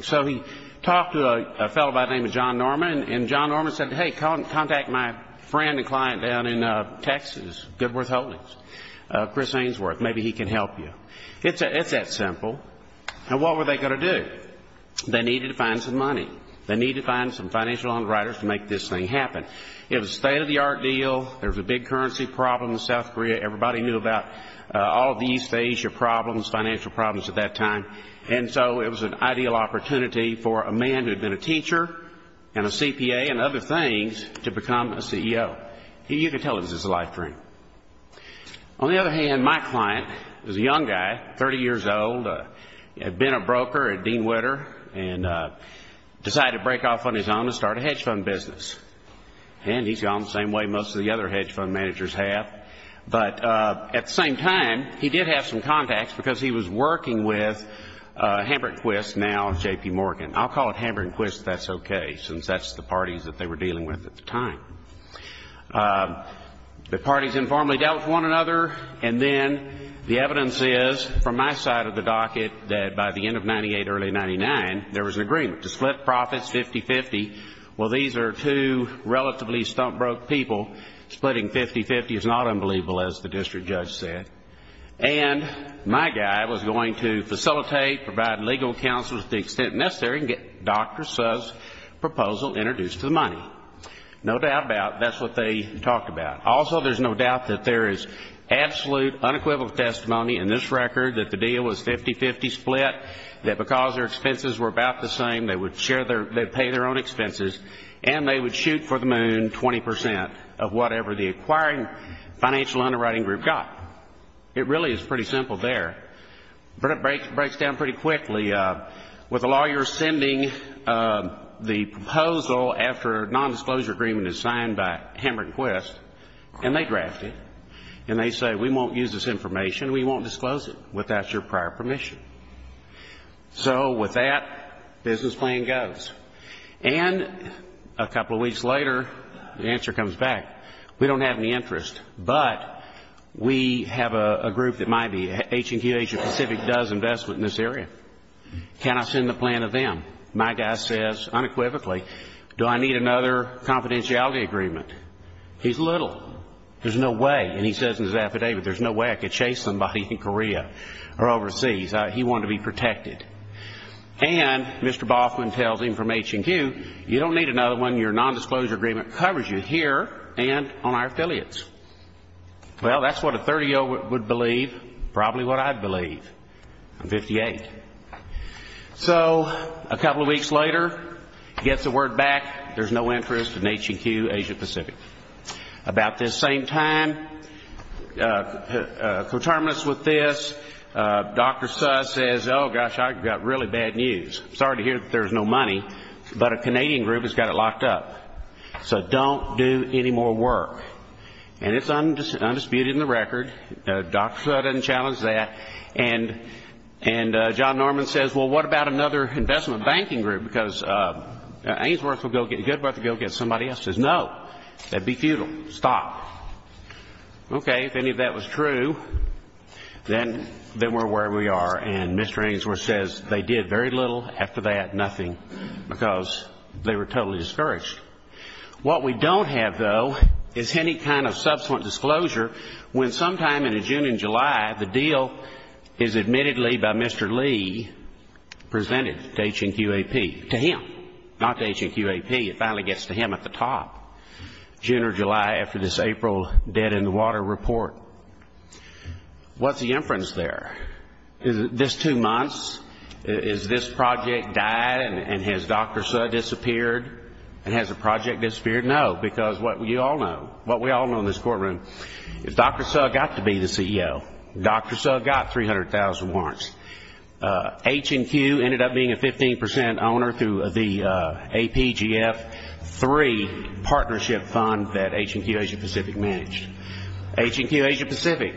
So he talked to a fellow by the name of John Norman, and John Norman said, Hey, contact my friend and client down in Texas, Goodworth Holdings, Chris Ainsworth, maybe he can help you. It's that simple. And what were they going to do? They needed to find some money. They needed to find some financial underwriters to make this thing happen. It was a state-of-the-art deal. There was a big currency problem in South Korea. Everybody knew about all of the East Asia problems, financial problems at that time. And so it was an ideal opportunity for a man who had been a teacher and a CPA and other things to become a CEO. You could tell it was his life dream. On the other hand, my client was a young guy, 30 years old, had been a broker at Dean Witter and decided to break off on his own and start a hedge fund business. And he's gone the same way most of the other hedge fund managers have. But at the same time, he did have some contacts because he was working with Hambert & Quist, now J.P. Morgan. I'll call it Hambert & Quist if that's okay, since that's the parties that they were dealing with at the time. The parties informally dealt with one another, and then the evidence is, from my side of the docket, that by the end of 1998, early 1999, there was an agreement to split profits 50-50. Well, these are two relatively stump-broke people. Splitting 50-50 is not unbelievable, as the district judge said. And my guy was going to facilitate, provide legal counsel to the extent necessary and get Dr. Suh's proposal introduced to the money. No doubt about it, that's what they talked about. Also, there's no doubt that there is absolute, unequivocal testimony in this record that the deal was 50-50 split, that because their expenses were about the same, they would pay their own expenses, and they would shoot for the moon 20% of whatever the acquiring financial underwriting group got. It really is pretty simple there. But it breaks down pretty quickly. With the lawyers sending the proposal after a nondisclosure agreement is signed by Hambert & Quist, and they draft it, and they say, we won't use this information, we won't disclose it without your prior permission. So with that, business plan goes. And a couple of weeks later, the answer comes back, we don't have any interest, but we have a group that might be, H&Q Asia Pacific does investment in this area. Can I send the plan to them? My guy says, unequivocally, do I need another confidentiality agreement? He's little. There's no way. And he says in his affidavit, there's no way I could chase somebody in Korea or overseas. He wanted to be protected. And Mr. Boffman tells him from H&Q, you don't need another one, your nondisclosure agreement covers you here and on our affiliates. Well, that's what a 30-year-old would believe, probably what I'd believe. I'm 58. So a couple of weeks later, he gets the word back, there's no interest in H&Q Asia Pacific. About this same time, coterminous with this, Dr. Suh says, oh, gosh, I've got really bad news. Sorry to hear that there's no money, but a Canadian group has got it locked up, so don't do any more work. And it's undisputed in the record. Dr. Suh doesn't challenge that. And John Norman says, well, what about another investment banking group, because Ainsworth will go get somebody else. He says, no, that would be futile. Stop. Okay, if any of that was true, then we're where we are. And Mr. Ainsworth says they did very little after that, nothing, because they were totally discouraged. What we don't have, though, is any kind of subsequent disclosure when sometime in June and July, the deal is admittedly by Mr. Lee presented to H&Q AP, to him, not to H&Q AP. It finally gets to him at the top, June or July after this April dead in the water report. What's the inference there? Is this two months? Is this project died and has Dr. Suh disappeared and has the project disappeared? No, because what you all know, what we all know in this courtroom, is Dr. Suh got to be the CEO. Dr. Suh got 300,000 warrants. H&Q ended up being a 15 percent owner through the APGF3 partnership fund that H&Q Asia Pacific managed. H&Q Asia Pacific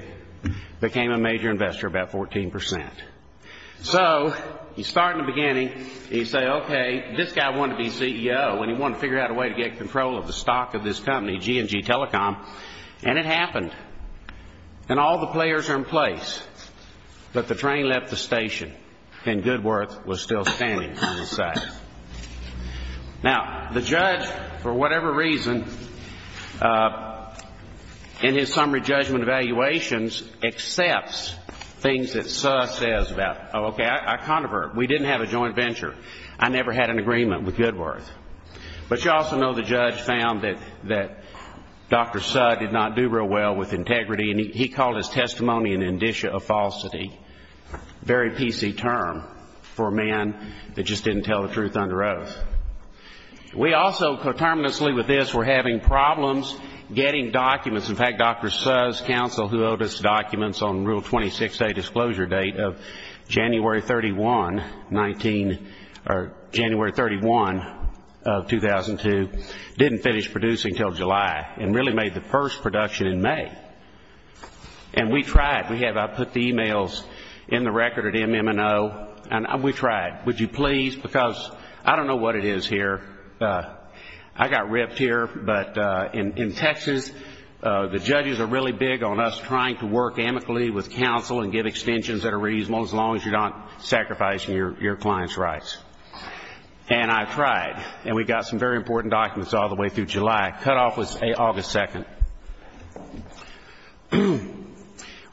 became a major investor, about 14 percent. So you start in the beginning and you say, okay, this guy wanted to be CEO and he wanted to figure out a way to get control of the stock of this company, G&G Telecom, and it happened. And all the players are in place, but the train left the station and Goodworth was still standing on his side. Now, the judge, for whatever reason, in his summary judgment evaluations, accepts things that Suh says about, okay, I controvert. We didn't have a joint venture. I never had an agreement with Goodworth. But you also know the judge found that Dr. Suh did not do real well with integrity and he called his testimony an indicia of falsity. A very PC term for a man that just didn't tell the truth under oath. We also, coterminously with this, were having problems getting documents. In fact, Dr. Suh's counsel, who owed us documents on Rule 26A disclosure date of January 31, 19 or January 31 of 2002, didn't finish producing until July and really made the first production in May. And we tried. I put the emails in the record at MMO and we tried. Would you please, because I don't know what it is here. I got ripped here, but in Texas the judges are really big on us trying to work amicably with counsel and give extensions that are reasonable as long as you're not sacrificing your client's rights. And I tried. And we got some very important documents all the way through July. Cutoff was August 2.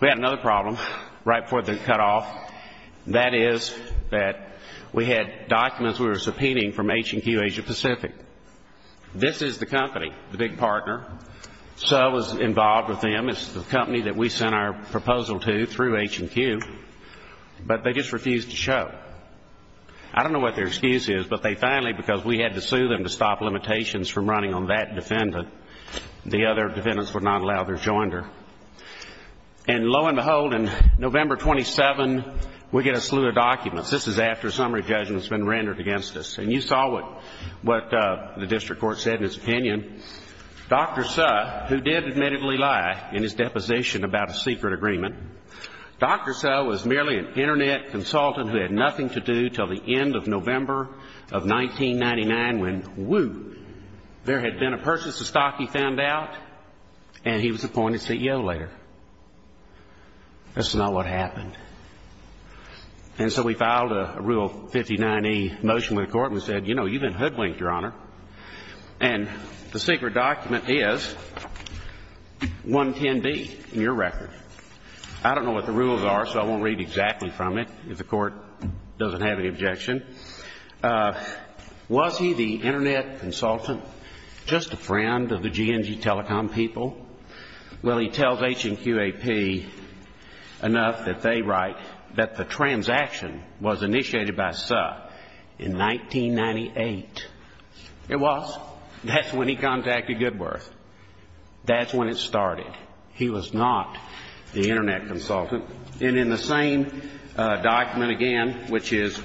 We had another problem right before the cutoff. That is that we had documents we were subpoenaing from H&Q Asia Pacific. This is the company, the big partner. Suh was involved with them. It's the company that we sent our proposal to through H&Q. But they just refused to show. I don't know what their excuse is, but they finally, because we had to sue them to stop limitations from running on that defendant, the other defendants would not allow their joinder. And lo and behold, on November 27, we get a slew of documents. This is after a summary judgment has been rendered against us. And you saw what the district court said in its opinion. Dr. Suh, who did admittedly lie in his deposition about a secret agreement, Dr. Suh was merely an Internet consultant who had nothing to do until the end of November of 1999 when, whew, there had been a purchase of stock, he found out, and he was appointed CEO later. That's not what happened. And so we filed a Rule 59E motion with the court and we said, you know, you've been hoodwinked, Your Honor. And the secret document is 110B in your record. I don't know what the rules are, so I won't read exactly from it if the court doesn't have any objection. Was he the Internet consultant, just a friend of the G&G Telecom people? Well, he tells H&QAP enough that they write that the transaction was initiated by Suh in 1998. It was. That's when he contacted Goodworth. That's when it started. He was not the Internet consultant. And in the same document again, which is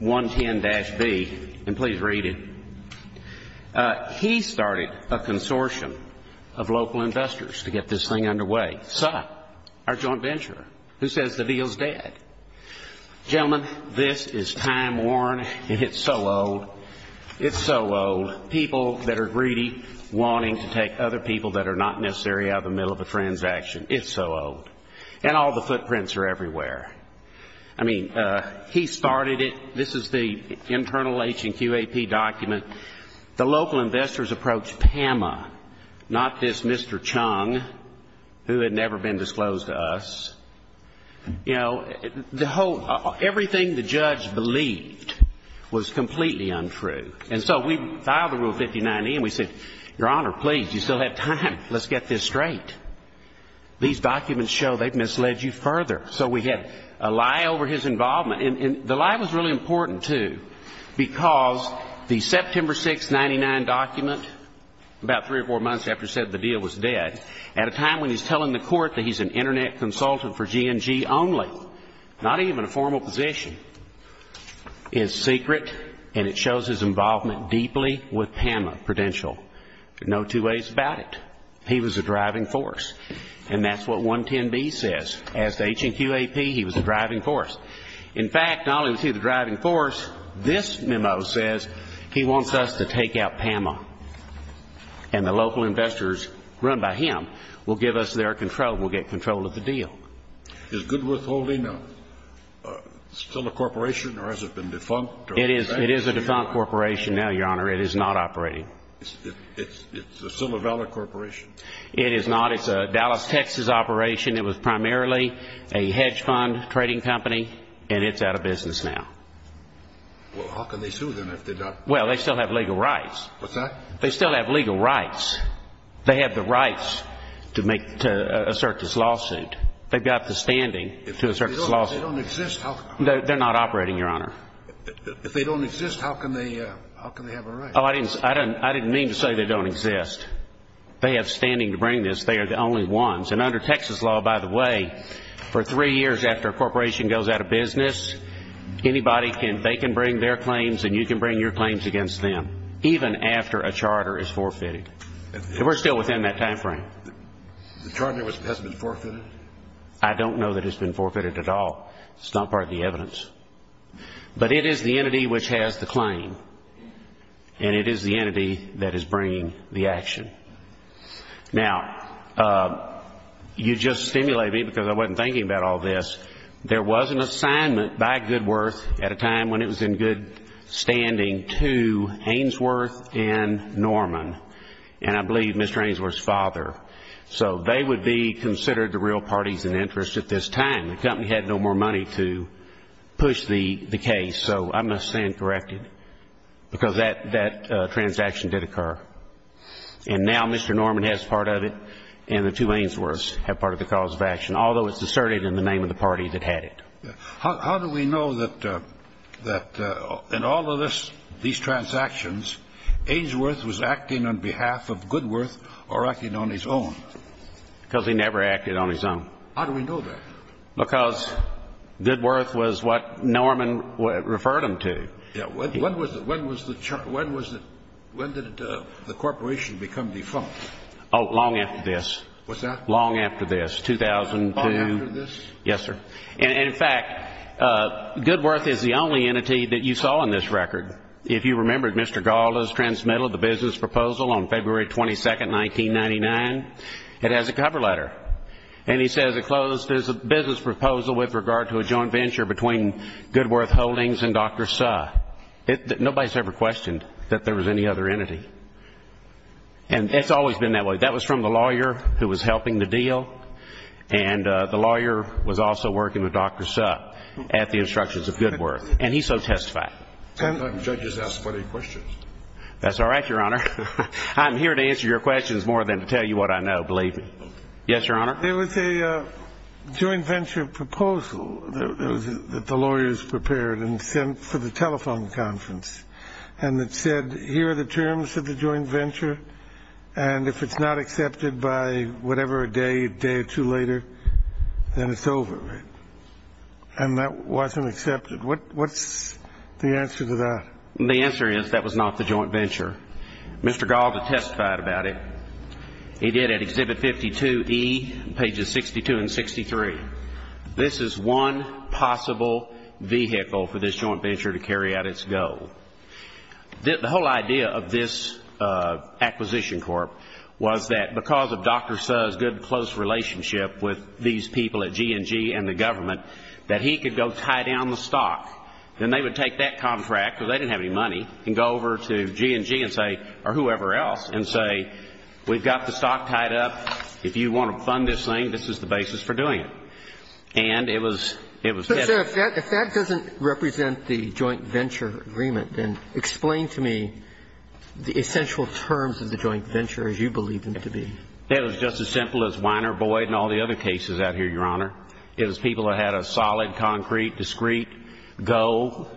110-B, and please read it, he started a consortium of local investors to get this thing underway. Suh, our joint venturer, who says the deal's dead. Gentlemen, this is time-worn and it's so old. It's so old. People that are greedy wanting to take other people that are not necessary out of the middle of a transaction. It's so old. And all the footprints are everywhere. I mean, he started it. This is the internal H&QAP document. The local investors approached PAMA, not this Mr. Chung, who had never been disclosed to us. You know, the whole, everything the judge believed was completely untrue. And so we filed the Rule 59e, and we said, Your Honor, please, you still have time. Let's get this straight. These documents show they've misled you further. So we had a lie over his involvement. And the lie was really important, too, because the September 6, 1999 document, about three or four months after it said the deal was dead, at a time when he's telling the court that he's an Internet consultant for G&G only, not even a formal position, is secret, and it shows his involvement deeply with PAMA Prudential. There are no two ways about it. He was a driving force. And that's what 110b says. As to H&QAP, he was a driving force. In fact, not only was he the driving force, this memo says he wants us to take out PAMA, and the local investors run by him will give us their control, will get control of the deal. Is Goodworth Holding still a corporation, or has it been defunct? It is a defunct corporation now, Your Honor. It is not operating. It's still a valid corporation? It is not. It's a Dallas, Texas operation. It was primarily a hedge fund trading company, and it's out of business now. Well, how can they sue them if they're not? Well, they still have legal rights. What's that? They still have legal rights. They have the rights to assert this lawsuit. They've got the standing to assert this lawsuit. If they don't exist, how can they? They're not operating, Your Honor. If they don't exist, how can they have a right? Oh, I didn't mean to say they don't exist. They have standing to bring this. They are the only ones. And under Texas law, by the way, for three years after a corporation goes out of business, they can bring their claims and you can bring your claims against them, even after a charter is forfeited. We're still within that time frame. The charter hasn't been forfeited? I don't know that it's been forfeited at all. It's not part of the evidence. But it is the entity which has the claim, and it is the entity that is bringing the action. Now, you just stimulated me because I wasn't thinking about all this. There was an assignment by Goodworth at a time when it was in good standing to Ainsworth and Norman, and I believe Mr. Ainsworth's father. So they would be considered the real parties in interest at this time. The company had no more money to push the case. So I'm going to stand corrected because that transaction did occur. And now Mr. Norman has part of it, and the two Ainsworths have part of the cause of action, although it's asserted in the name of the party that had it. How do we know that in all of these transactions, Ainsworth was acting on behalf of Goodworth or acting on his own? Because he never acted on his own. How do we know that? Because Goodworth was what Norman referred him to. When did the corporation become defunct? Oh, long after this. Was that? Long after this, 2002. Long after this? Yes, sir. And, in fact, Goodworth is the only entity that you saw in this record. If you remember, Mr. Gall has transmitted the business proposal on February 22, 1999. It has a cover letter. And he says it closed as a business proposal with regard to a joint venture between Goodworth Holdings and Dr. Suh. Nobody has ever questioned that there was any other entity. And it's always been that way. That was from the lawyer who was helping the deal. And the lawyer was also working with Dr. Suh at the instructions of Goodworth. And he so testified. I thought the judges asked funny questions. That's all right, Your Honor. I'm here to answer your questions more than to tell you what I know, believe me. Yes, Your Honor? There was a joint venture proposal that the lawyers prepared and sent for the telephone conference. And it said, here are the terms of the joint venture. And if it's not accepted by whatever day, a day or two later, then it's over. And that wasn't accepted. What's the answer to that? The answer is that was not the joint venture. Mr. Gaulda testified about it. He did at Exhibit 52E, pages 62 and 63. This is one possible vehicle for this joint venture to carry out its goal. The whole idea of this acquisition court was that because of Dr. Suh's good close relationship with these people at G&G and the government, that he could go tie down the stock. Then they would take that contract, because they didn't have any money, and go over to G&G and say, or whoever else, and say, we've got the stock tied up. If you want to fund this thing, this is the basis for doing it. And it was kept. But, sir, if that doesn't represent the joint venture agreement, then explain to me the essential terms of the joint venture as you believe them to be. It was just as simple as Weiner, Boyd, and all the other cases out here, Your Honor. It was people who had a solid, concrete, discreet goal,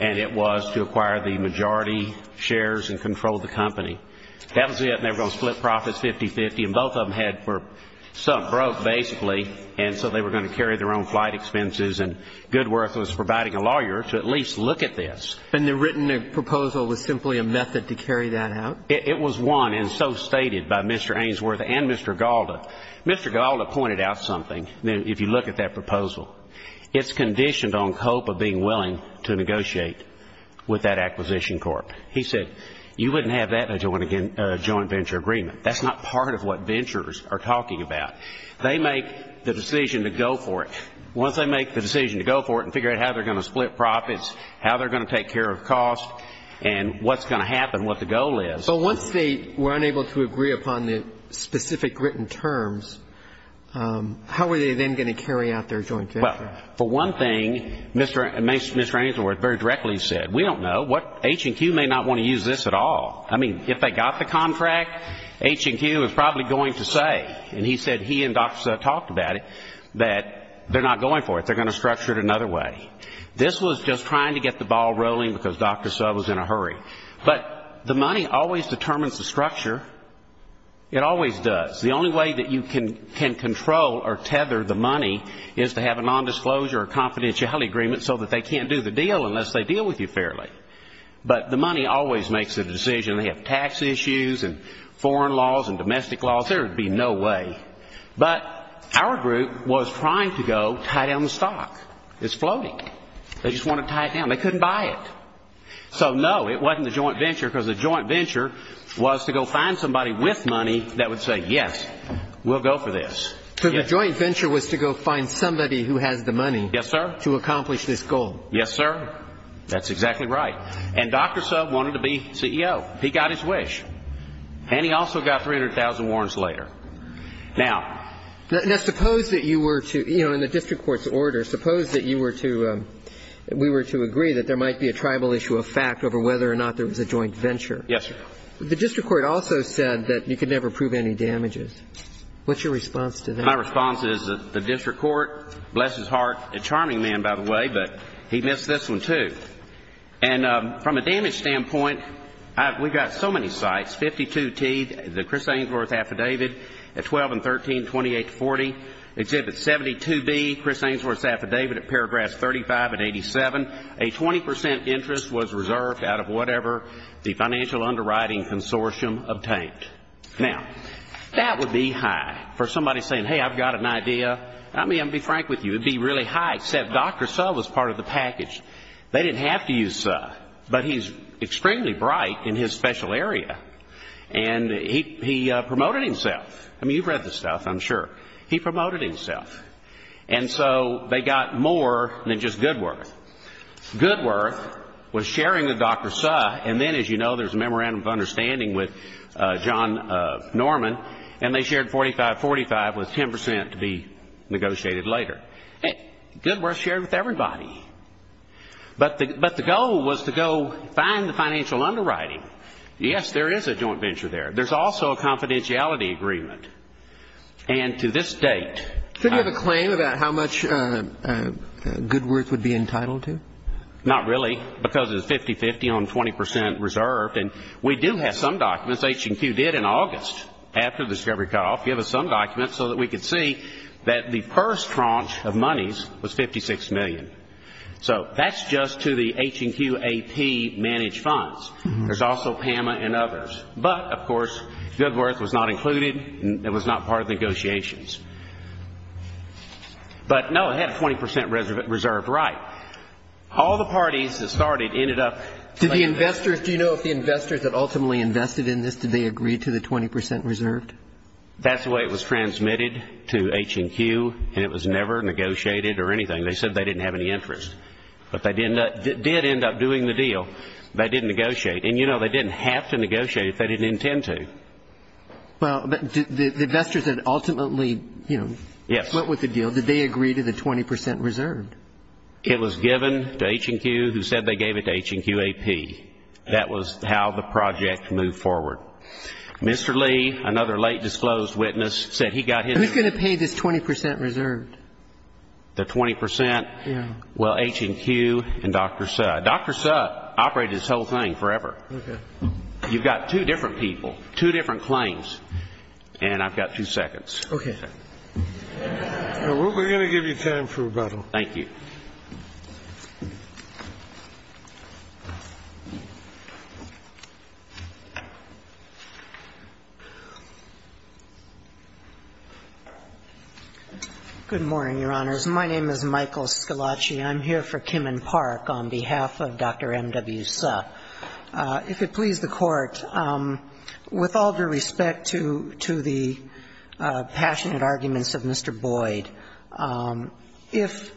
and it was to acquire the majority shares and control the company. That was it, and they were going to split profits 50-50, and both of them had something broke, basically, and so they were going to carry their own flight expenses, and Goodworth was providing a lawyer to at least look at this. And the written proposal was simply a method to carry that out? It was one, and so stated by Mr. Ainsworth and Mr. Gaulda. Mr. Gaulda pointed out something. If you look at that proposal, it's conditioned on hope of being willing to negotiate with that acquisition corp. He said, you wouldn't have that in a joint venture agreement. That's not part of what ventures are talking about. They make the decision to go for it. Once they make the decision to go for it and figure out how they're going to split profits, how they're going to take care of cost, and what's going to happen, what the goal is. But once they were unable to agree upon the specific written terms, how were they then going to carry out their joint venture? Well, for one thing, Mr. Ainsworth very directly said, we don't know. H&Q may not want to use this at all. I mean, if they got the contract, H&Q is probably going to say, and he said he and Dr. Sub talked about it, that they're not going for it. They're going to structure it another way. This was just trying to get the ball rolling because Dr. Sub was in a hurry. But the money always determines the structure. It always does. The only way that you can control or tether the money is to have a nondisclosure or confidentiality agreement so that they can't do the deal unless they deal with you fairly. But the money always makes the decision. They have tax issues and foreign laws and domestic laws. There would be no way. But our group was trying to go tie down the stock. It's floating. They just wanted to tie it down. They couldn't buy it. So, no, it wasn't the joint venture because the joint venture was to go find somebody with money that would say, yes, we'll go for this. So the joint venture was to go find somebody who has the money. Yes, sir. To accomplish this goal. Yes, sir. That's exactly right. And Dr. Sub wanted to be CEO. He got his wish. And he also got 300,000 warrants later. Now, suppose that you were to, you know, in the district court's order, suppose that you were to, we were to agree that there might be a tribal issue of fact over whether or not there was a joint venture. Yes, sir. The district court also said that you could never prove any damages. What's your response to that? My response is the district court, bless his heart, a charming man, by the way, but he missed this one, too. And from a damage standpoint, we've got so many sites. 52T, the Chris Ainsworth Affidavit at 12 and 13, 28 to 40. Exhibit 72B, Chris Ainsworth's Affidavit at paragraphs 35 and 87. A 20 percent interest was reserved out of whatever the financial underwriting consortium obtained. Now, that would be high for somebody saying, hey, I've got an idea. I mean, I'll be frank with you, it would be really high, except Dr. Sub was part of the package. They didn't have to use Sub, but he's extremely bright in his special area, and he promoted himself. I mean, you've read the stuff, I'm sure. He promoted himself. And so they got more than just Goodworth. Goodworth was sharing with Dr. Sub, and then, as you know, there's a memorandum of understanding with John Norman, and they shared 45-45 with 10 percent to be negotiated later. Goodworth shared with everybody. But the goal was to go find the financial underwriting. Yes, there is a joint venture there. There's also a confidentiality agreement. And to this date ---- Could you have a claim about how much Goodworth would be entitled to? Not really, because it's 50-50 on 20 percent reserved. And we do have some documents, H&Q did in August, after the discovery cutoff, give us some documents so that we could see that the first tranche of monies was 56 million. So that's just to the H&Q AP managed funds. There's also PAMA and others. But, of course, Goodworth was not included, and it was not part of the negotiations. But, no, it had 20 percent reserved, right. All the parties that started ended up ---- Do the investors, do you know if the investors that ultimately invested in this, did they agree to the 20 percent reserved? That's the way it was transmitted to H&Q, and it was never negotiated or anything. They said they didn't have any interest. But they did end up doing the deal. They did negotiate. And, you know, they didn't have to negotiate if they didn't intend to. Well, the investors that ultimately, you know, went with the deal, did they agree to the 20 percent reserved? It was given to H&Q, who said they gave it to H&Q AP. That was how the project moved forward. Mr. Lee, another late disclosed witness, said he got his ---- Who's going to pay this 20 percent reserved? The 20 percent? Yeah. Well, H&Q and Dr. Sutt. Dr. Sutt operated this whole thing forever. Okay. You've got two different people, two different claims, and I've got two seconds. Okay. We're going to give you time for rebuttal. Thank you. Good morning, Your Honors. My name is Michael Scalacci. I'm here for Kimman Park on behalf of Dr. M.W. Sutt. If it please the Court, with all due respect to the passionate arguments of Mr. Boyd, if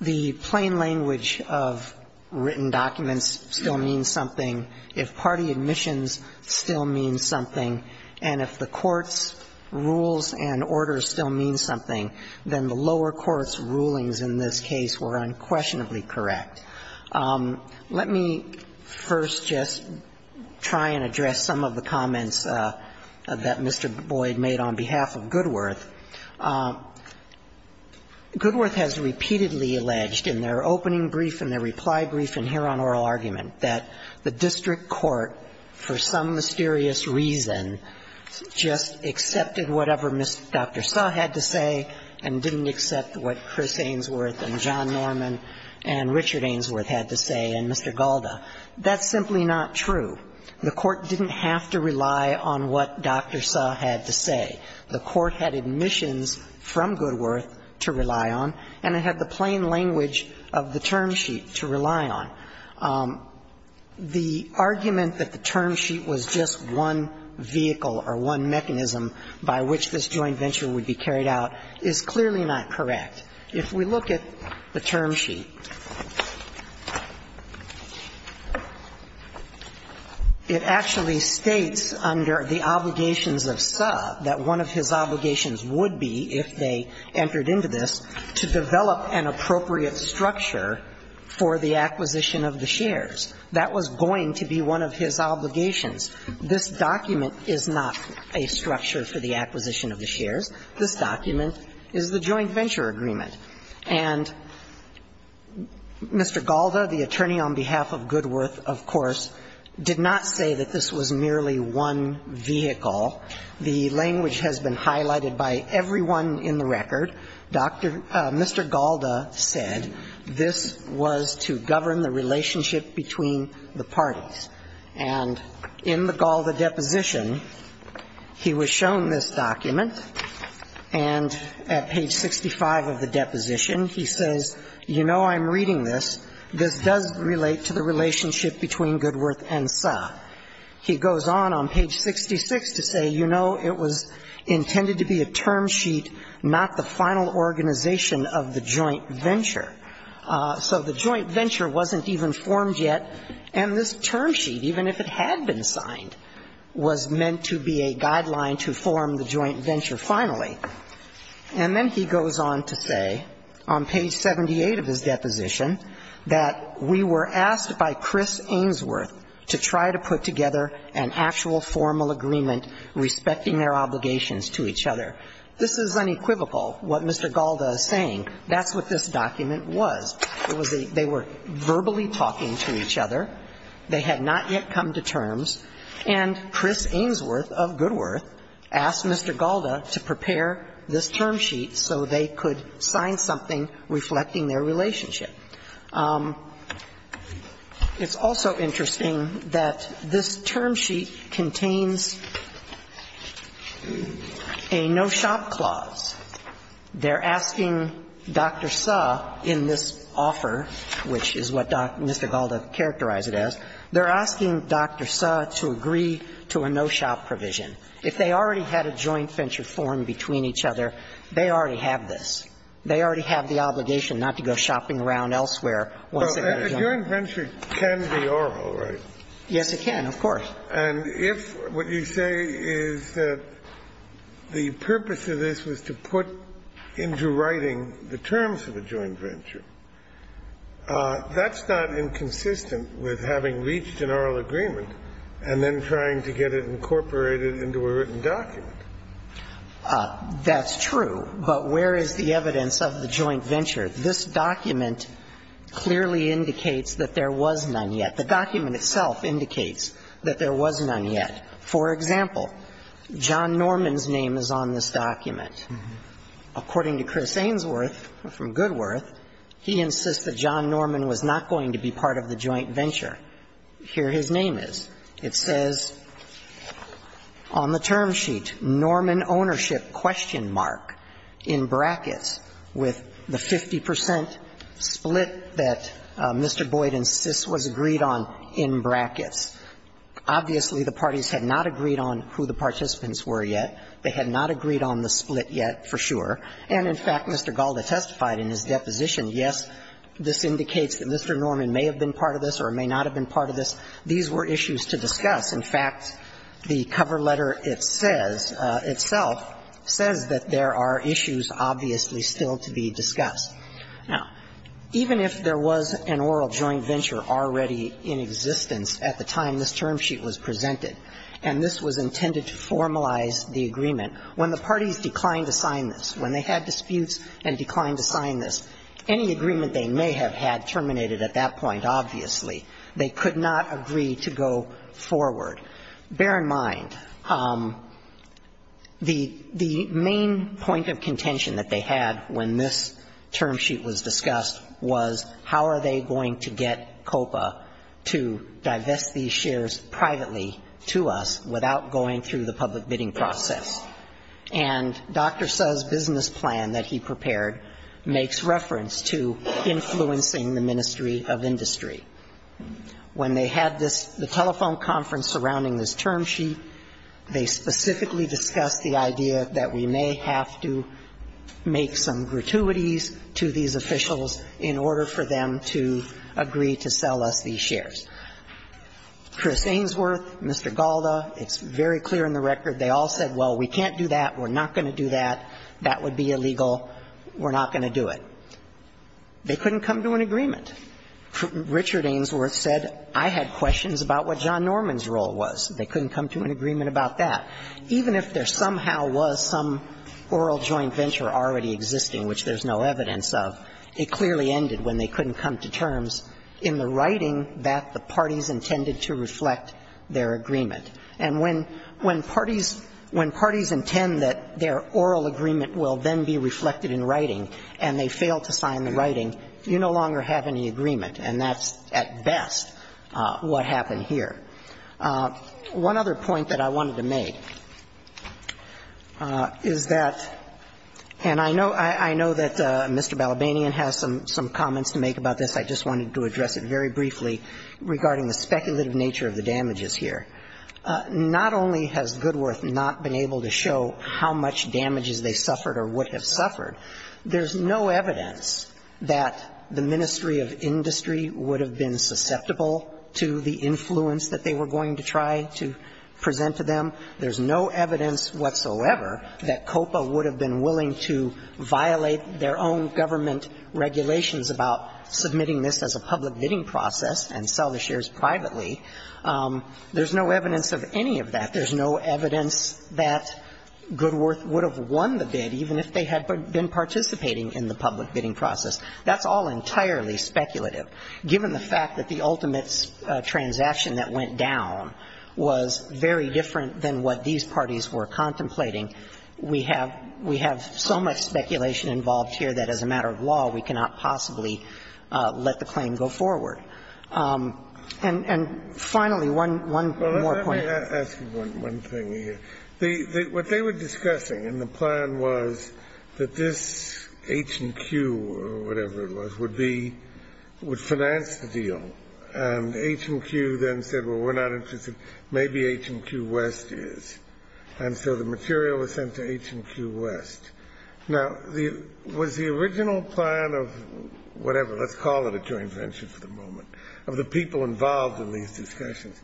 the plain language of written documents still means something, if party admissions still means something, and if the court's rules and orders still mean something, then the lower court's rulings in this case were unquestionably correct. Let me first just try and address some of the comments that Mr. Boyd made on behalf of Goodworth. Goodworth has repeatedly alleged in their opening brief and their reply brief and hereon oral argument that the district court, for some mysterious reason, just accepted whatever Dr. Sutt had to say and didn't accept what Chris Ainsworth and John Norman and Richard Ainsworth had to say and Mr. Galda. That's simply not true. The court didn't have to rely on what Dr. Sutt had to say. The court had admissions from Goodworth to rely on and it had the plain language of the term sheet to rely on. The argument that the term sheet was just one vehicle or one mechanism by which this joint venture would be carried out is clearly not correct. If we look at the term sheet, it actually states under the obligations of Sutt that one of his obligations would be, if they entered into this, to develop an appropriate structure for the acquisition of the shares. That was going to be one of his obligations. This document is not a structure for the acquisition of the shares. This document is the joint venture agreement. And Mr. Galda, the attorney on behalf of Goodworth, of course, did not say that this was merely one vehicle. The language has been highlighted by everyone in the record. Mr. Galda said this was to govern the relationship between the parties. And in the Galda deposition, he was shown this document and at page 65 of the deposition he says, you know, I'm reading this. This does relate to the relationship between Goodworth and Sutt. He goes on on page 66 to say, you know, it was intended to be a term sheet, not the final organization of the joint venture. So the joint venture wasn't even formed yet, and this term sheet, even if it had been signed, was meant to be a guideline to form the joint venture finally. And then he goes on to say, on page 78 of his deposition, that we were asked by Chris Ainsworth to try to put together an actual formal agreement respecting their obligations to each other. This is unequivocal what Mr. Galda is saying. That's what this document was. It was a they were verbally talking to each other. They had not yet come to terms. And Chris Ainsworth of Goodworth asked Mr. Galda to prepare this term sheet so they could sign something reflecting their relationship. It's also interesting that this term sheet contains a no-shop clause. They're asking Dr. Suh in this offer, which is what Mr. Galda characterized it as, they're asking Dr. Suh to agree to a no-shop provision. If they already had a joint venture formed between each other, they already have this. They already have the obligation not to go shopping around elsewhere once they've had a joint venture. Kennedy. Well, a joint venture can be oral, right? Yes, it can, of course. And if what you say is that the purpose of this was to put into writing the terms of a joint venture, that's not inconsistent with having reached an oral agreement and then trying to get it incorporated into a written document. That's true. But where is the evidence of the joint venture? This document clearly indicates that there was none yet. The document itself indicates that there was none yet. For example, John Norman's name is on this document. According to Chris Ainsworth from Goodworth, he insists that John Norman was not going to be part of the joint venture. Here his name is. It says on the term sheet, Norman ownership question mark, in brackets, with the 50 percent split that Mr. Boyd insists was agreed on in brackets. Obviously, the parties had not agreed on who the participants were yet. They had not agreed on the split yet for sure. And in fact, Mr. Galda testified in his deposition, yes, this indicates that Mr. Norman may have been part of this or may not have been part of this. These were issues to discuss. In fact, the cover letter itself says that there are issues obviously still to be discussed. Now, even if there was an oral joint venture already in existence at the time this term sheet was presented, and this was intended to formalize the agreement, when the parties declined to sign this, when they had disputes and declined to sign this, any agreement they may have had terminated at that point, obviously. They could not agree to go forward. Bear in mind, the main point of contention that they had when this term sheet was discussed was how are they going to get COPA to divest these shares privately to us without going through the public bidding process. And Dr. Suh's business plan that he prepared makes reference to influencing the Ministry of Industry. When they had this, the telephone conference surrounding this term sheet, they specifically discussed the idea that we may have to make some gratuities to these officials in order for them to agree to sell us these shares. Chris Ainsworth, Mr. Galda, it's very clear in the record, they all said, well, we can't do that, we're not going to do that, that would be illegal, we're not going to do it. They couldn't come to an agreement. Richard Ainsworth said, I had questions about what John Norman's role was. They couldn't come to an agreement about that. Even if there somehow was some oral joint venture already existing, which there's no evidence of, it clearly ended when they couldn't come to terms in the writing that the parties intended to reflect their agreement. And when parties intend that their oral agreement will then be reflected in writing and they fail to sign the writing, you no longer have any agreement, and that's at best what happened here. One other point that I wanted to make is that, and I know that Mr. Balabanian has some comments to make about this, I just wanted to address it very briefly regarding the speculative nature of the damages here. Not only has Goodworth not been able to show how much damages they suffered or would have suffered, there's no evidence that the Ministry of Industry would have been susceptible to the influence that they were going to try to present to them. There's no evidence whatsoever that COPA would have been willing to violate their own government regulations about submitting this as a public bidding process and sell the shares privately. There's no evidence of any of that. There's no evidence that Goodworth would have won the bid even if they had been participating in the public bidding process. That's all entirely speculative. Given the fact that the ultimate transaction that went down was very different than what these parties were contemplating, we have so much speculation involved here that as a matter of law, we cannot possibly let the claim go forward. And finally, one more point. I'm going to ask you one thing here. What they were discussing in the plan was that this H&Q or whatever it was would be, would finance the deal. And H&Q then said, well, we're not interested. Maybe H&Q West is. And so the material was sent to H&Q West. Now, was the original plan of whatever, let's call it a joint venture for the moment, of the people involved in these discussions,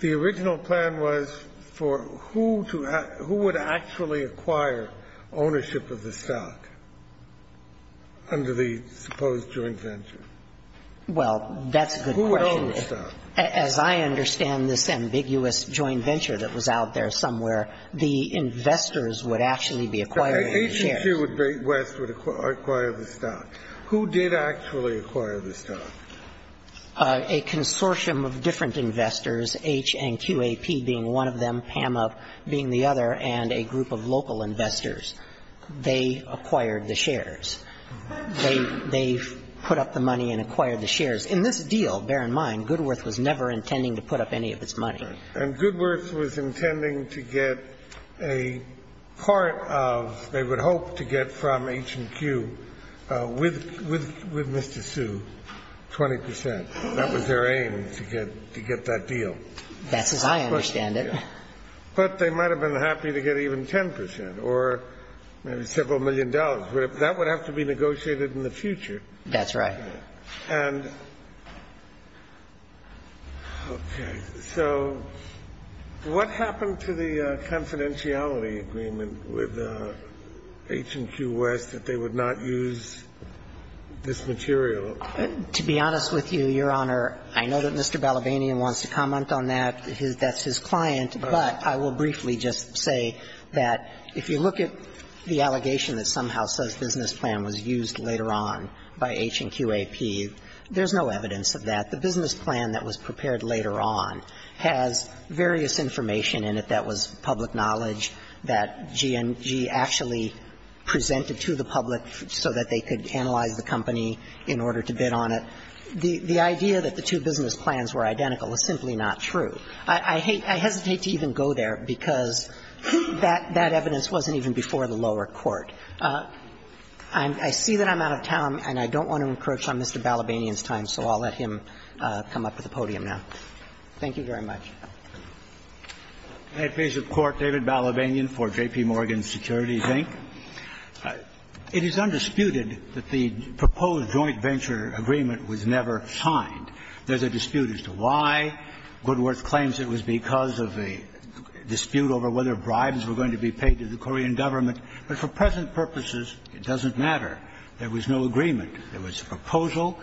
the original plan was for who to act, who would actually acquire ownership of the stock under the supposed joint venture? Well, that's a good question. Who owned the stock? As I understand this ambiguous joint venture that was out there somewhere, the investors would actually be acquiring the shares. H&Q West would acquire the stock. Who did actually acquire the stock? A consortium of different investors, H&QAP being one of them, PAMA being the other, and a group of local investors. They acquired the shares. They put up the money and acquired the shares. In this deal, bear in mind, Goodworth was never intending to put up any of its money. And Goodworth was intending to get a part of, they would hope to get from H&Q with Mr. Sue, 20 percent. That was their aim, to get that deal. That's as I understand it. But they might have been happy to get even 10 percent or maybe several million dollars. That would have to be negotiated in the future. That's right. And, okay. So what happened to the confidentiality agreement with H&Q West that they would not use this material? To be honest with you, Your Honor, I know that Mr. Balabanian wants to comment on that. That's his client. But I will briefly just say that if you look at the allegation that somehow says business plan was used later on by H&QAP, there's no evidence of that. The business plan that was prepared later on has various information in it that was submitted to the public so that they could analyze the company in order to bid on it. The idea that the two business plans were identical is simply not true. I hesitate to even go there because that evidence wasn't even before the lower court. I see that I'm out of time, and I don't want to encroach on Mr. Balabanian's time, so I'll let him come up to the podium now. Thank you very much. May it please the Court, David Balabanian for J.P. Morgan Securities, Inc. It is undisputed that the proposed joint venture agreement was never signed. There's a dispute as to why. Goodworth claims it was because of a dispute over whether bribes were going to be paid to the Korean government. But for present purposes, it doesn't matter. There was no agreement. There was a proposal.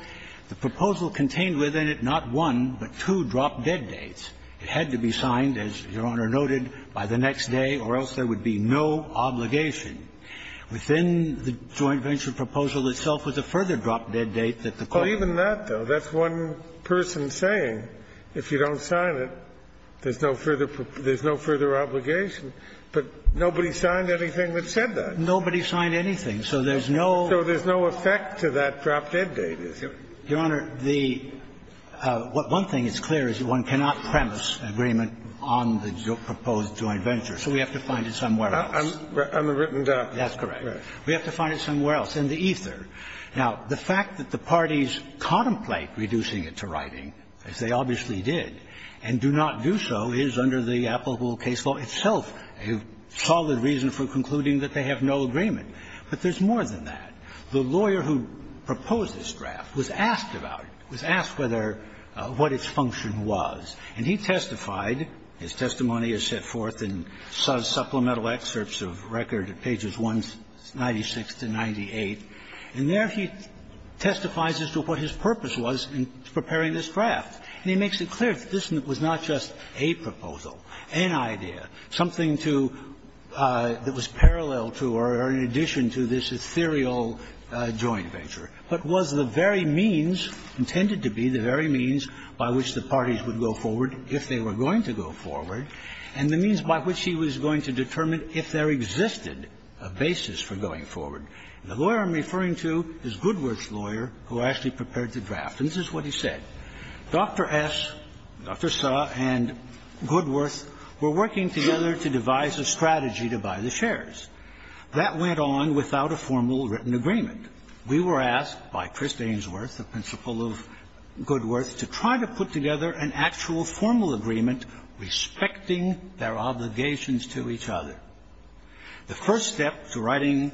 The proposal contained within it not one, but two drop-dead dates. It had to be signed, as Your Honor noted, by the next day or else there would be no obligation. Within the joint venture proposal itself was a further drop-dead date that the claimant Well, even that, though, that's one person saying if you don't sign it, there's no further obligation. But nobody signed anything that said that. Nobody signed anything. So there's no So there's no effect to that drop-dead date, is there? Your Honor, the one thing that's clear is one cannot premise an agreement on the proposed joint venture. So we have to find it somewhere else. On the written document. That's correct. We have to find it somewhere else in the ether. Now, the fact that the parties contemplate reducing it to writing, as they obviously did, and do not do so is under the applicable case law itself a solid reason for concluding that they have no agreement. But there's more than that. The lawyer who proposed this draft was asked about it, was asked whether what its function was. And he testified. His testimony is set forth in supplemental excerpts of record at pages 196 to 98. And there he testifies as to what his purpose was in preparing this draft. And he makes it clear that this was not just a proposal, an idea, something to that was parallel to or in addition to this ethereal joint venture, but was the very means intended to be, the very means by which the parties would go forward if they were going to go forward, and the means by which he was going to determine if there existed a basis for going forward. The lawyer I'm referring to is Goodworth's lawyer who actually prepared the draft. And this is what he said. Dr. S, Dr. Suh, and Goodworth were working together to devise a strategy to buy the shares. That went on without a formal written agreement. We were asked by Chris Ainsworth, the principal of Goodworth, to try to put together an actual formal agreement respecting their obligations to each other. The first step to writing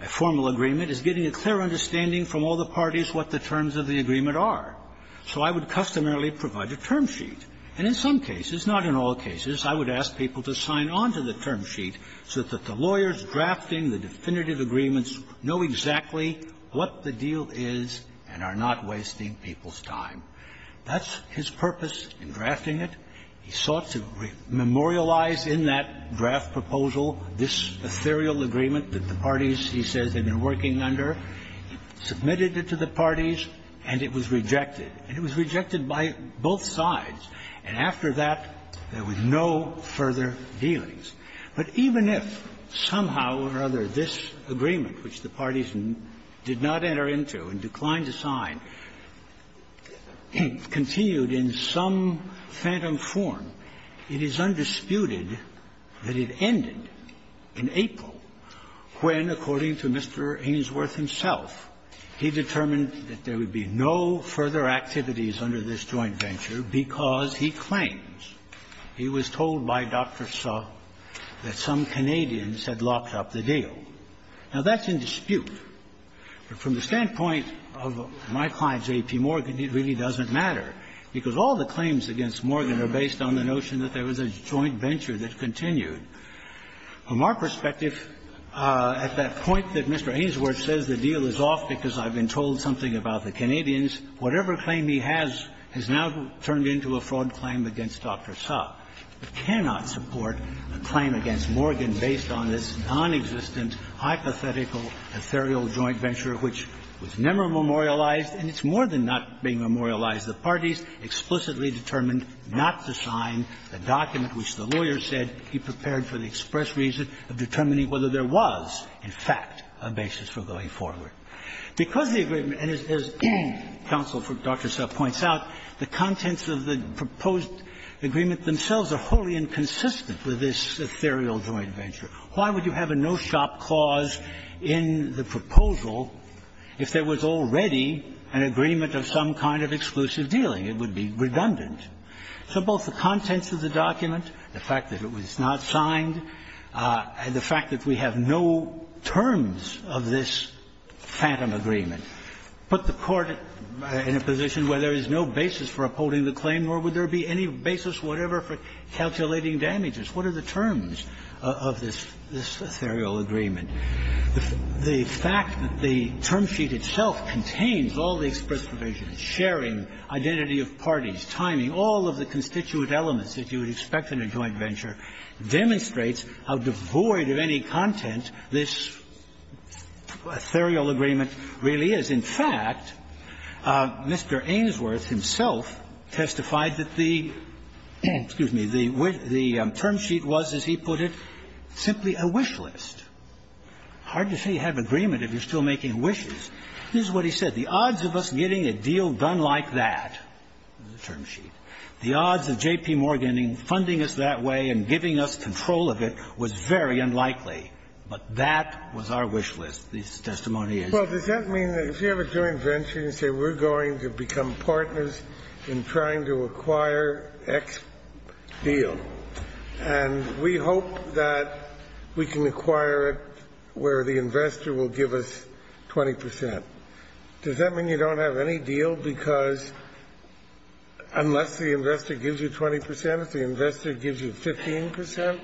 a formal agreement is getting a clear understanding from all the parties what the terms of the agreement are. So I would customarily provide a term sheet. And in some cases, not in all cases, I would ask people to sign on to the term sheet so that the lawyers drafting the definitive agreements know exactly what the deal is and are not wasting people's time. That's his purpose in drafting it. He sought to memorialize in that draft proposal this ethereal agreement that the parties, he says, had been working under, submitted it to the parties, and it was rejected. And it was rejected by both sides. And after that, there was no further dealings. But even if somehow or other this agreement, which the parties did not enter into and declined to sign, continued in some phantom form, it is undisputed that it ended in April, when, according to Mr. Ainsworth himself, he determined that there would be no further activities under this joint venture because he claims, he was told by Dr. Suh, that some Canadians had locked up the deal. Now, that's in dispute. But from the standpoint of my client, J.P. Morgan, it really doesn't matter, because all the claims against Morgan are based on the notion that there was a joint venture that continued. From our perspective, at that point that Mr. Ainsworth says the deal is off because I've been told something about the Canadians, whatever claim he has has now turned into a fraud claim against Dr. Suh. It cannot support a claim against Morgan based on this nonexistent, hypothetical, ethereal joint venture, which was never memorialized, and it's more than not being memorialized. The parties explicitly determined not to sign the document which the lawyer said he prepared for the express reason of determining whether there was, in fact, a basis for going forward. Because the agreement, and as counsel for Dr. Suh points out, the contents of the proposed agreement themselves are wholly inconsistent with this ethereal joint venture. Why would you have a no-shop clause in the proposal if there was already an agreement of some kind of exclusive dealing? It would be redundant. So both the contents of the document, the fact that it was not signed, and the fact that we have no terms of this phantom agreement put the Court in a position where there is no basis for upholding the claim, nor would there be any basis whatever for calculating damages. What are the terms of this ethereal agreement? The fact that the term sheet itself contains all the express provisions, sharing, identity of parties, timing, all of the constituent elements that you would expect in a joint venture, demonstrates how devoid of any content this ethereal agreement really is. In fact, Mr. Ainsworth himself testified that the term sheet was, as he put it, simply a wish list. Hard to say you have agreement if you're still making wishes. This is what he said. The odds of us getting a deal done like that, the term sheet, the odds of J.P. Morgan funding us that way and giving us control of it was very unlikely. But that was our wish list, this testimony is. Well, does that mean that if you have a joint venture, you say we're going to become a contract where the investor will give us 20 percent? Does that mean you don't have any deal because unless the investor gives you 20 percent, if the investor gives you 15 percent?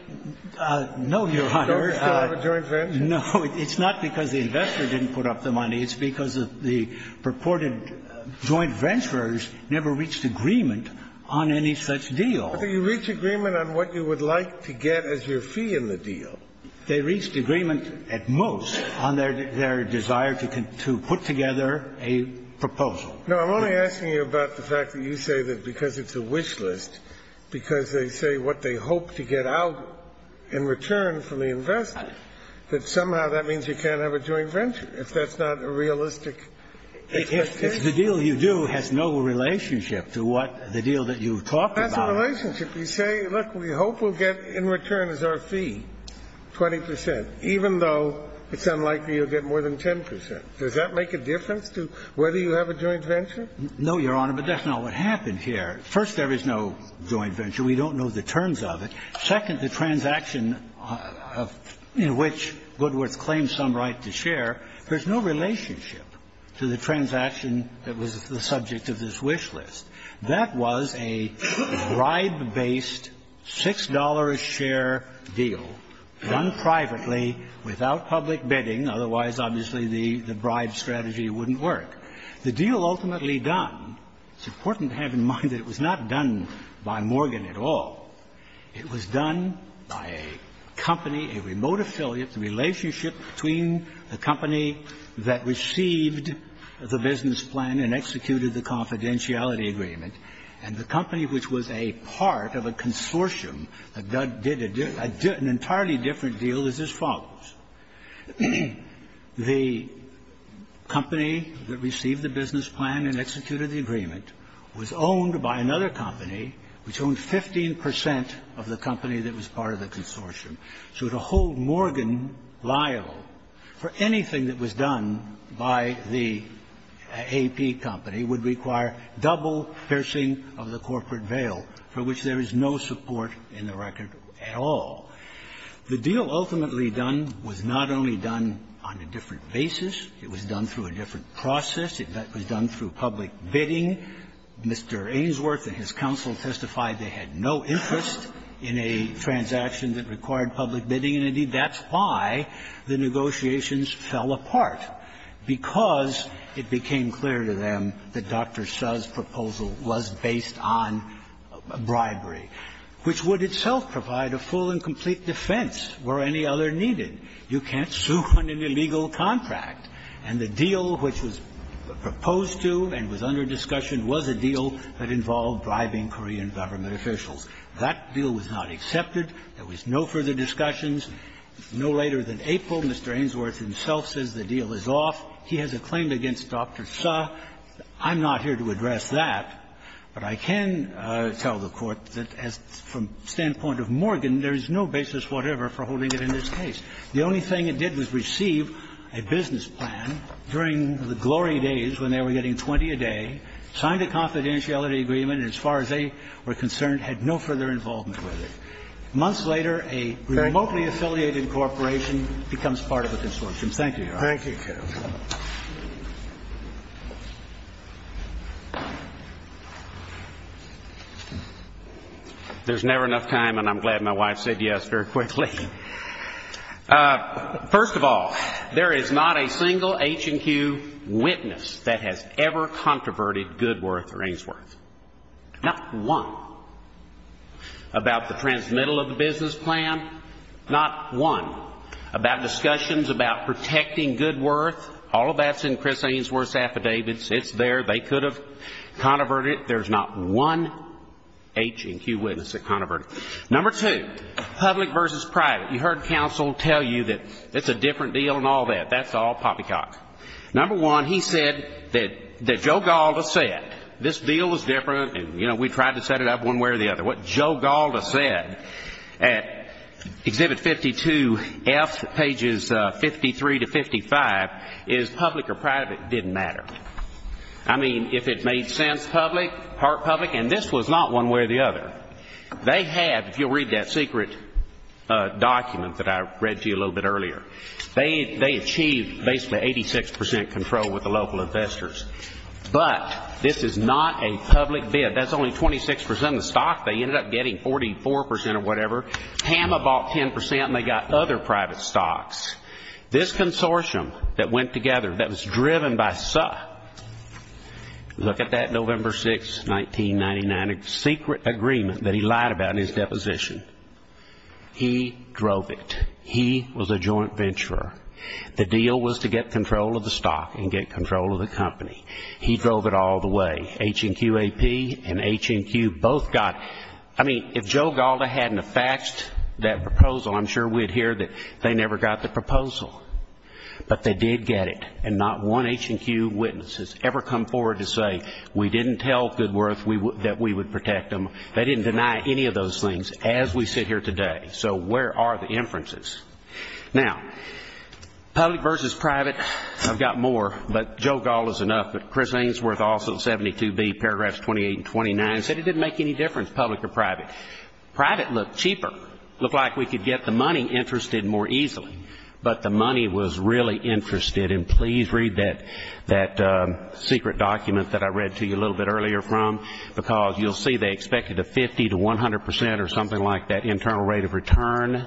No, Your Honor. You don't still have a joint venture? No. It's not because the investor didn't put up the money. It's because the purported joint ventures never reached agreement on any such deal. But you reach agreement on what you would like to get as your fee in the deal. They reached agreement at most on their desire to put together a proposal. No, I'm only asking you about the fact that you say that because it's a wish list, because they say what they hope to get out in return from the investor, that somehow that means you can't have a joint venture. If that's not a realistic expectation. The deal you do has no relationship to what the deal that you talked about. That's a relationship. You say, look, we hope we'll get in return as our fee 20 percent, even though it's unlikely you'll get more than 10 percent. Does that make a difference to whether you have a joint venture? No, Your Honor, but that's not what happened here. First, there is no joint venture. We don't know the terms of it. Second, the transaction in which Goodworth claims some right to share, there's no relationship to the transaction that was the subject of this wish list. That was a bribe-based $6 share deal done privately without public bidding. Otherwise, obviously, the bribe strategy wouldn't work. The deal ultimately done, it's important to have in mind that it was not done by Morgan at all. It was done by a company, a remote affiliate, a relationship between the company that received the business plan and executed the confidentiality agreement. And the company which was a part of a consortium that did an entirely different deal is as follows. The company that received the business plan and executed the agreement was owned by another company, which owned 15 percent of the company that was part of the consortium. So to hold Morgan liable for anything that was done by the AP company would require double piercing of the corporate veil, for which there is no support in the record at all. The deal ultimately done was not only done on a different basis. It was done through a different process. It was done through public bidding. Mr. Ainsworth and his counsel testified they had no interest in a transaction that required public bidding, and, indeed, that's why the negotiations fell apart, because it became clear to them that Dr. Seo's proposal was based on bribery, which would itself provide a full and complete defense where any other needed. You can't sue on an illegal contract. And the deal which was proposed to and was under discussion was a deal that involved bribing Korean government officials. That deal was not accepted. There was no further discussions. No later than April, Mr. Ainsworth himself says the deal is off. He has a claim against Dr. Seo. I'm not here to address that, but I can tell the Court that as from the standpoint of Morgan, there is no basis whatever for holding it in this case. The only thing it did was receive a business plan during the glory days when they were getting 20 a day, signed a confidentiality agreement, and as far as they were there was no further involvement with it. Months later, a remotely affiliated corporation becomes part of the consortium. Thank you, Your Honor. Thank you, Counsel. There's never enough time, and I'm glad my wife said yes very quickly. First of all, there is not a single H&Q witness that has ever controverted Goodworth or Ainsworth. Not one. About the transmittal of the business plan, not one. About discussions about protecting Goodworth, all of that's in Chris Ainsworth's affidavits. It's there. They could have controverted it. There's not one H&Q witness that controverted it. Number two, public versus private. You heard counsel tell you that it's a different deal and all that. That's all poppycock. Number one, he said that Joe Gaulda said, this deal is different and we tried to set it up one way or the other. What Joe Gaulda said at Exhibit 52F, pages 53 to 55, is public or private didn't matter. I mean, if it made sense, public, part public, and this was not one way or the other. They had, if you'll read that secret document that I read to you a little bit earlier, they achieved basically 86% control with the local investors. But this is not a public bid. That's only 26% of the stock they ended up getting, 44% or whatever. Hama bought 10% and they got other private stocks. This consortium that went together, that was driven by Suh. Look at that November 6, 1999 secret agreement that he lied about in his deposition. He drove it. He was a joint venturer. The deal was to get control of the stock and get control of the company. He drove it all the way. H&Q AP and H&Q both got, I mean, if Joe Gaulda hadn't have faxed that proposal, I'm sure we'd hear that they never got the proposal. But they did get it. And not one H&Q witness has ever come forward to say, we didn't tell Goodworth that we would protect them. They didn't deny any of those things as we sit here today. So where are the inferences? Now, public versus private, I've got more, but Joe Gaulda's enough. But Chris Ainsworth also, 72B, paragraphs 28 and 29, said it didn't make any difference, public or private. Private looked cheaper, looked like we could get the money interested more easily. But the money was really interested, and please read that secret document that I read to you a little bit earlier from, because you'll see they expected a 50 to 100% or something like that internal rate of return.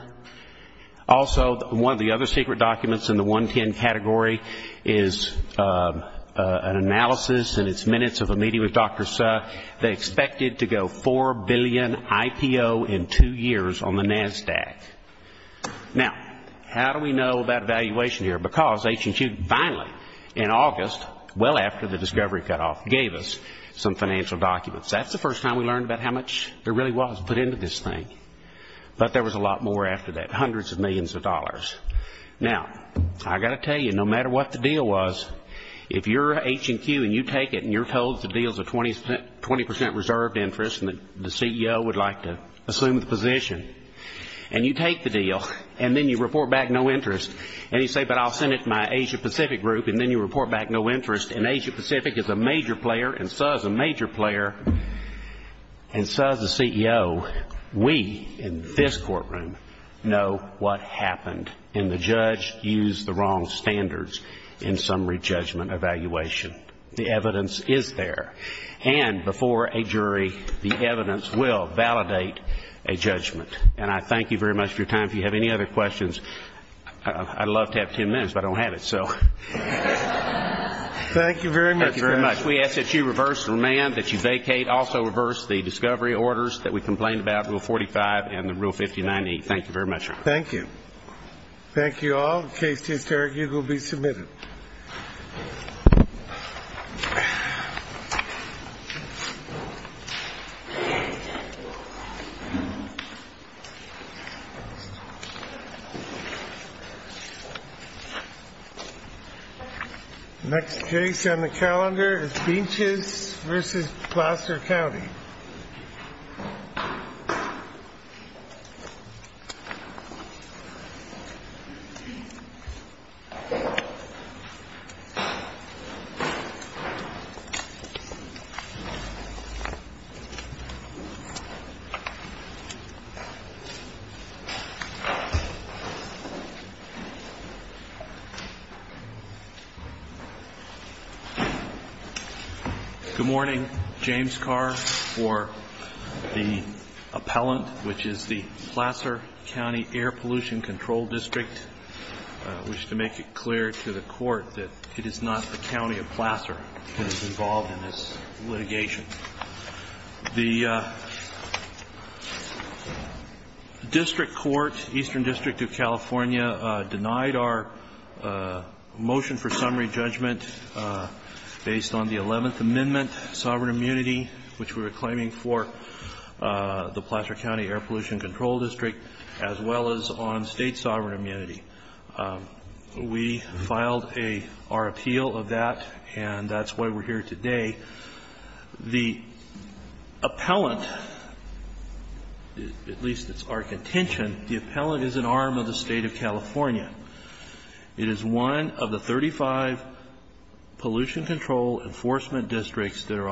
Also one of the other secret documents in the 110 category is an analysis in its minutes of a meeting with Dr. Suh, they expected to go 4 billion IPO in two years on the NASDAQ. Now, how do we know about valuation here? Because H&Q finally, in August, well after the discovery cutoff, gave us some financial documents. That's the first time we learned about how much there really was put into this thing. But there was a lot more after that, hundreds of millions of dollars. Now, I've got to tell you, no matter what the deal was, if you're H&Q and you take it and you're told the deal's a 20% reserved interest and the CEO would like to assume the position, and you take the deal, and then you report back no interest, and you say, but I'll send it to my Asia Pacific group, and then you report back no interest, and So as the CEO, we in this courtroom know what happened, and the judge used the wrong standards in summary judgment evaluation. The evidence is there, and before a jury, the evidence will validate a judgment. And I thank you very much for your time. If you have any other questions, I'd love to have 10 minutes, but I don't have it, so. Thank you very much. We ask that you reverse the remand, that you vacate, also reverse the discovery orders that we complained about, Rule 45 and the Rule 59E. Thank you very much, Your Honor. Thank you. Thank you all. The case is here. You will be submitted. The next case on the calendar is Beaches v. Placer County. Mr. Levy. Thank you. Good morning. James Carr for the appellant, which is the Placer County Air Pollution Control District. I wish to make it clear to the court that it is not the county of Placer that is involved in this litigation. The district court, Eastern District of California, denied our motion for summary judgment based on the 11th Amendment, sovereign immunity, which we were claiming for the Placer County Air Pollution Control District, as well as on state sovereign immunity. We filed our appeal of that, and that's why we're here today. The appellant, at least it's our contention, the appellant is an arm of the state of California. It is one of the 35 pollution control enforcement districts that are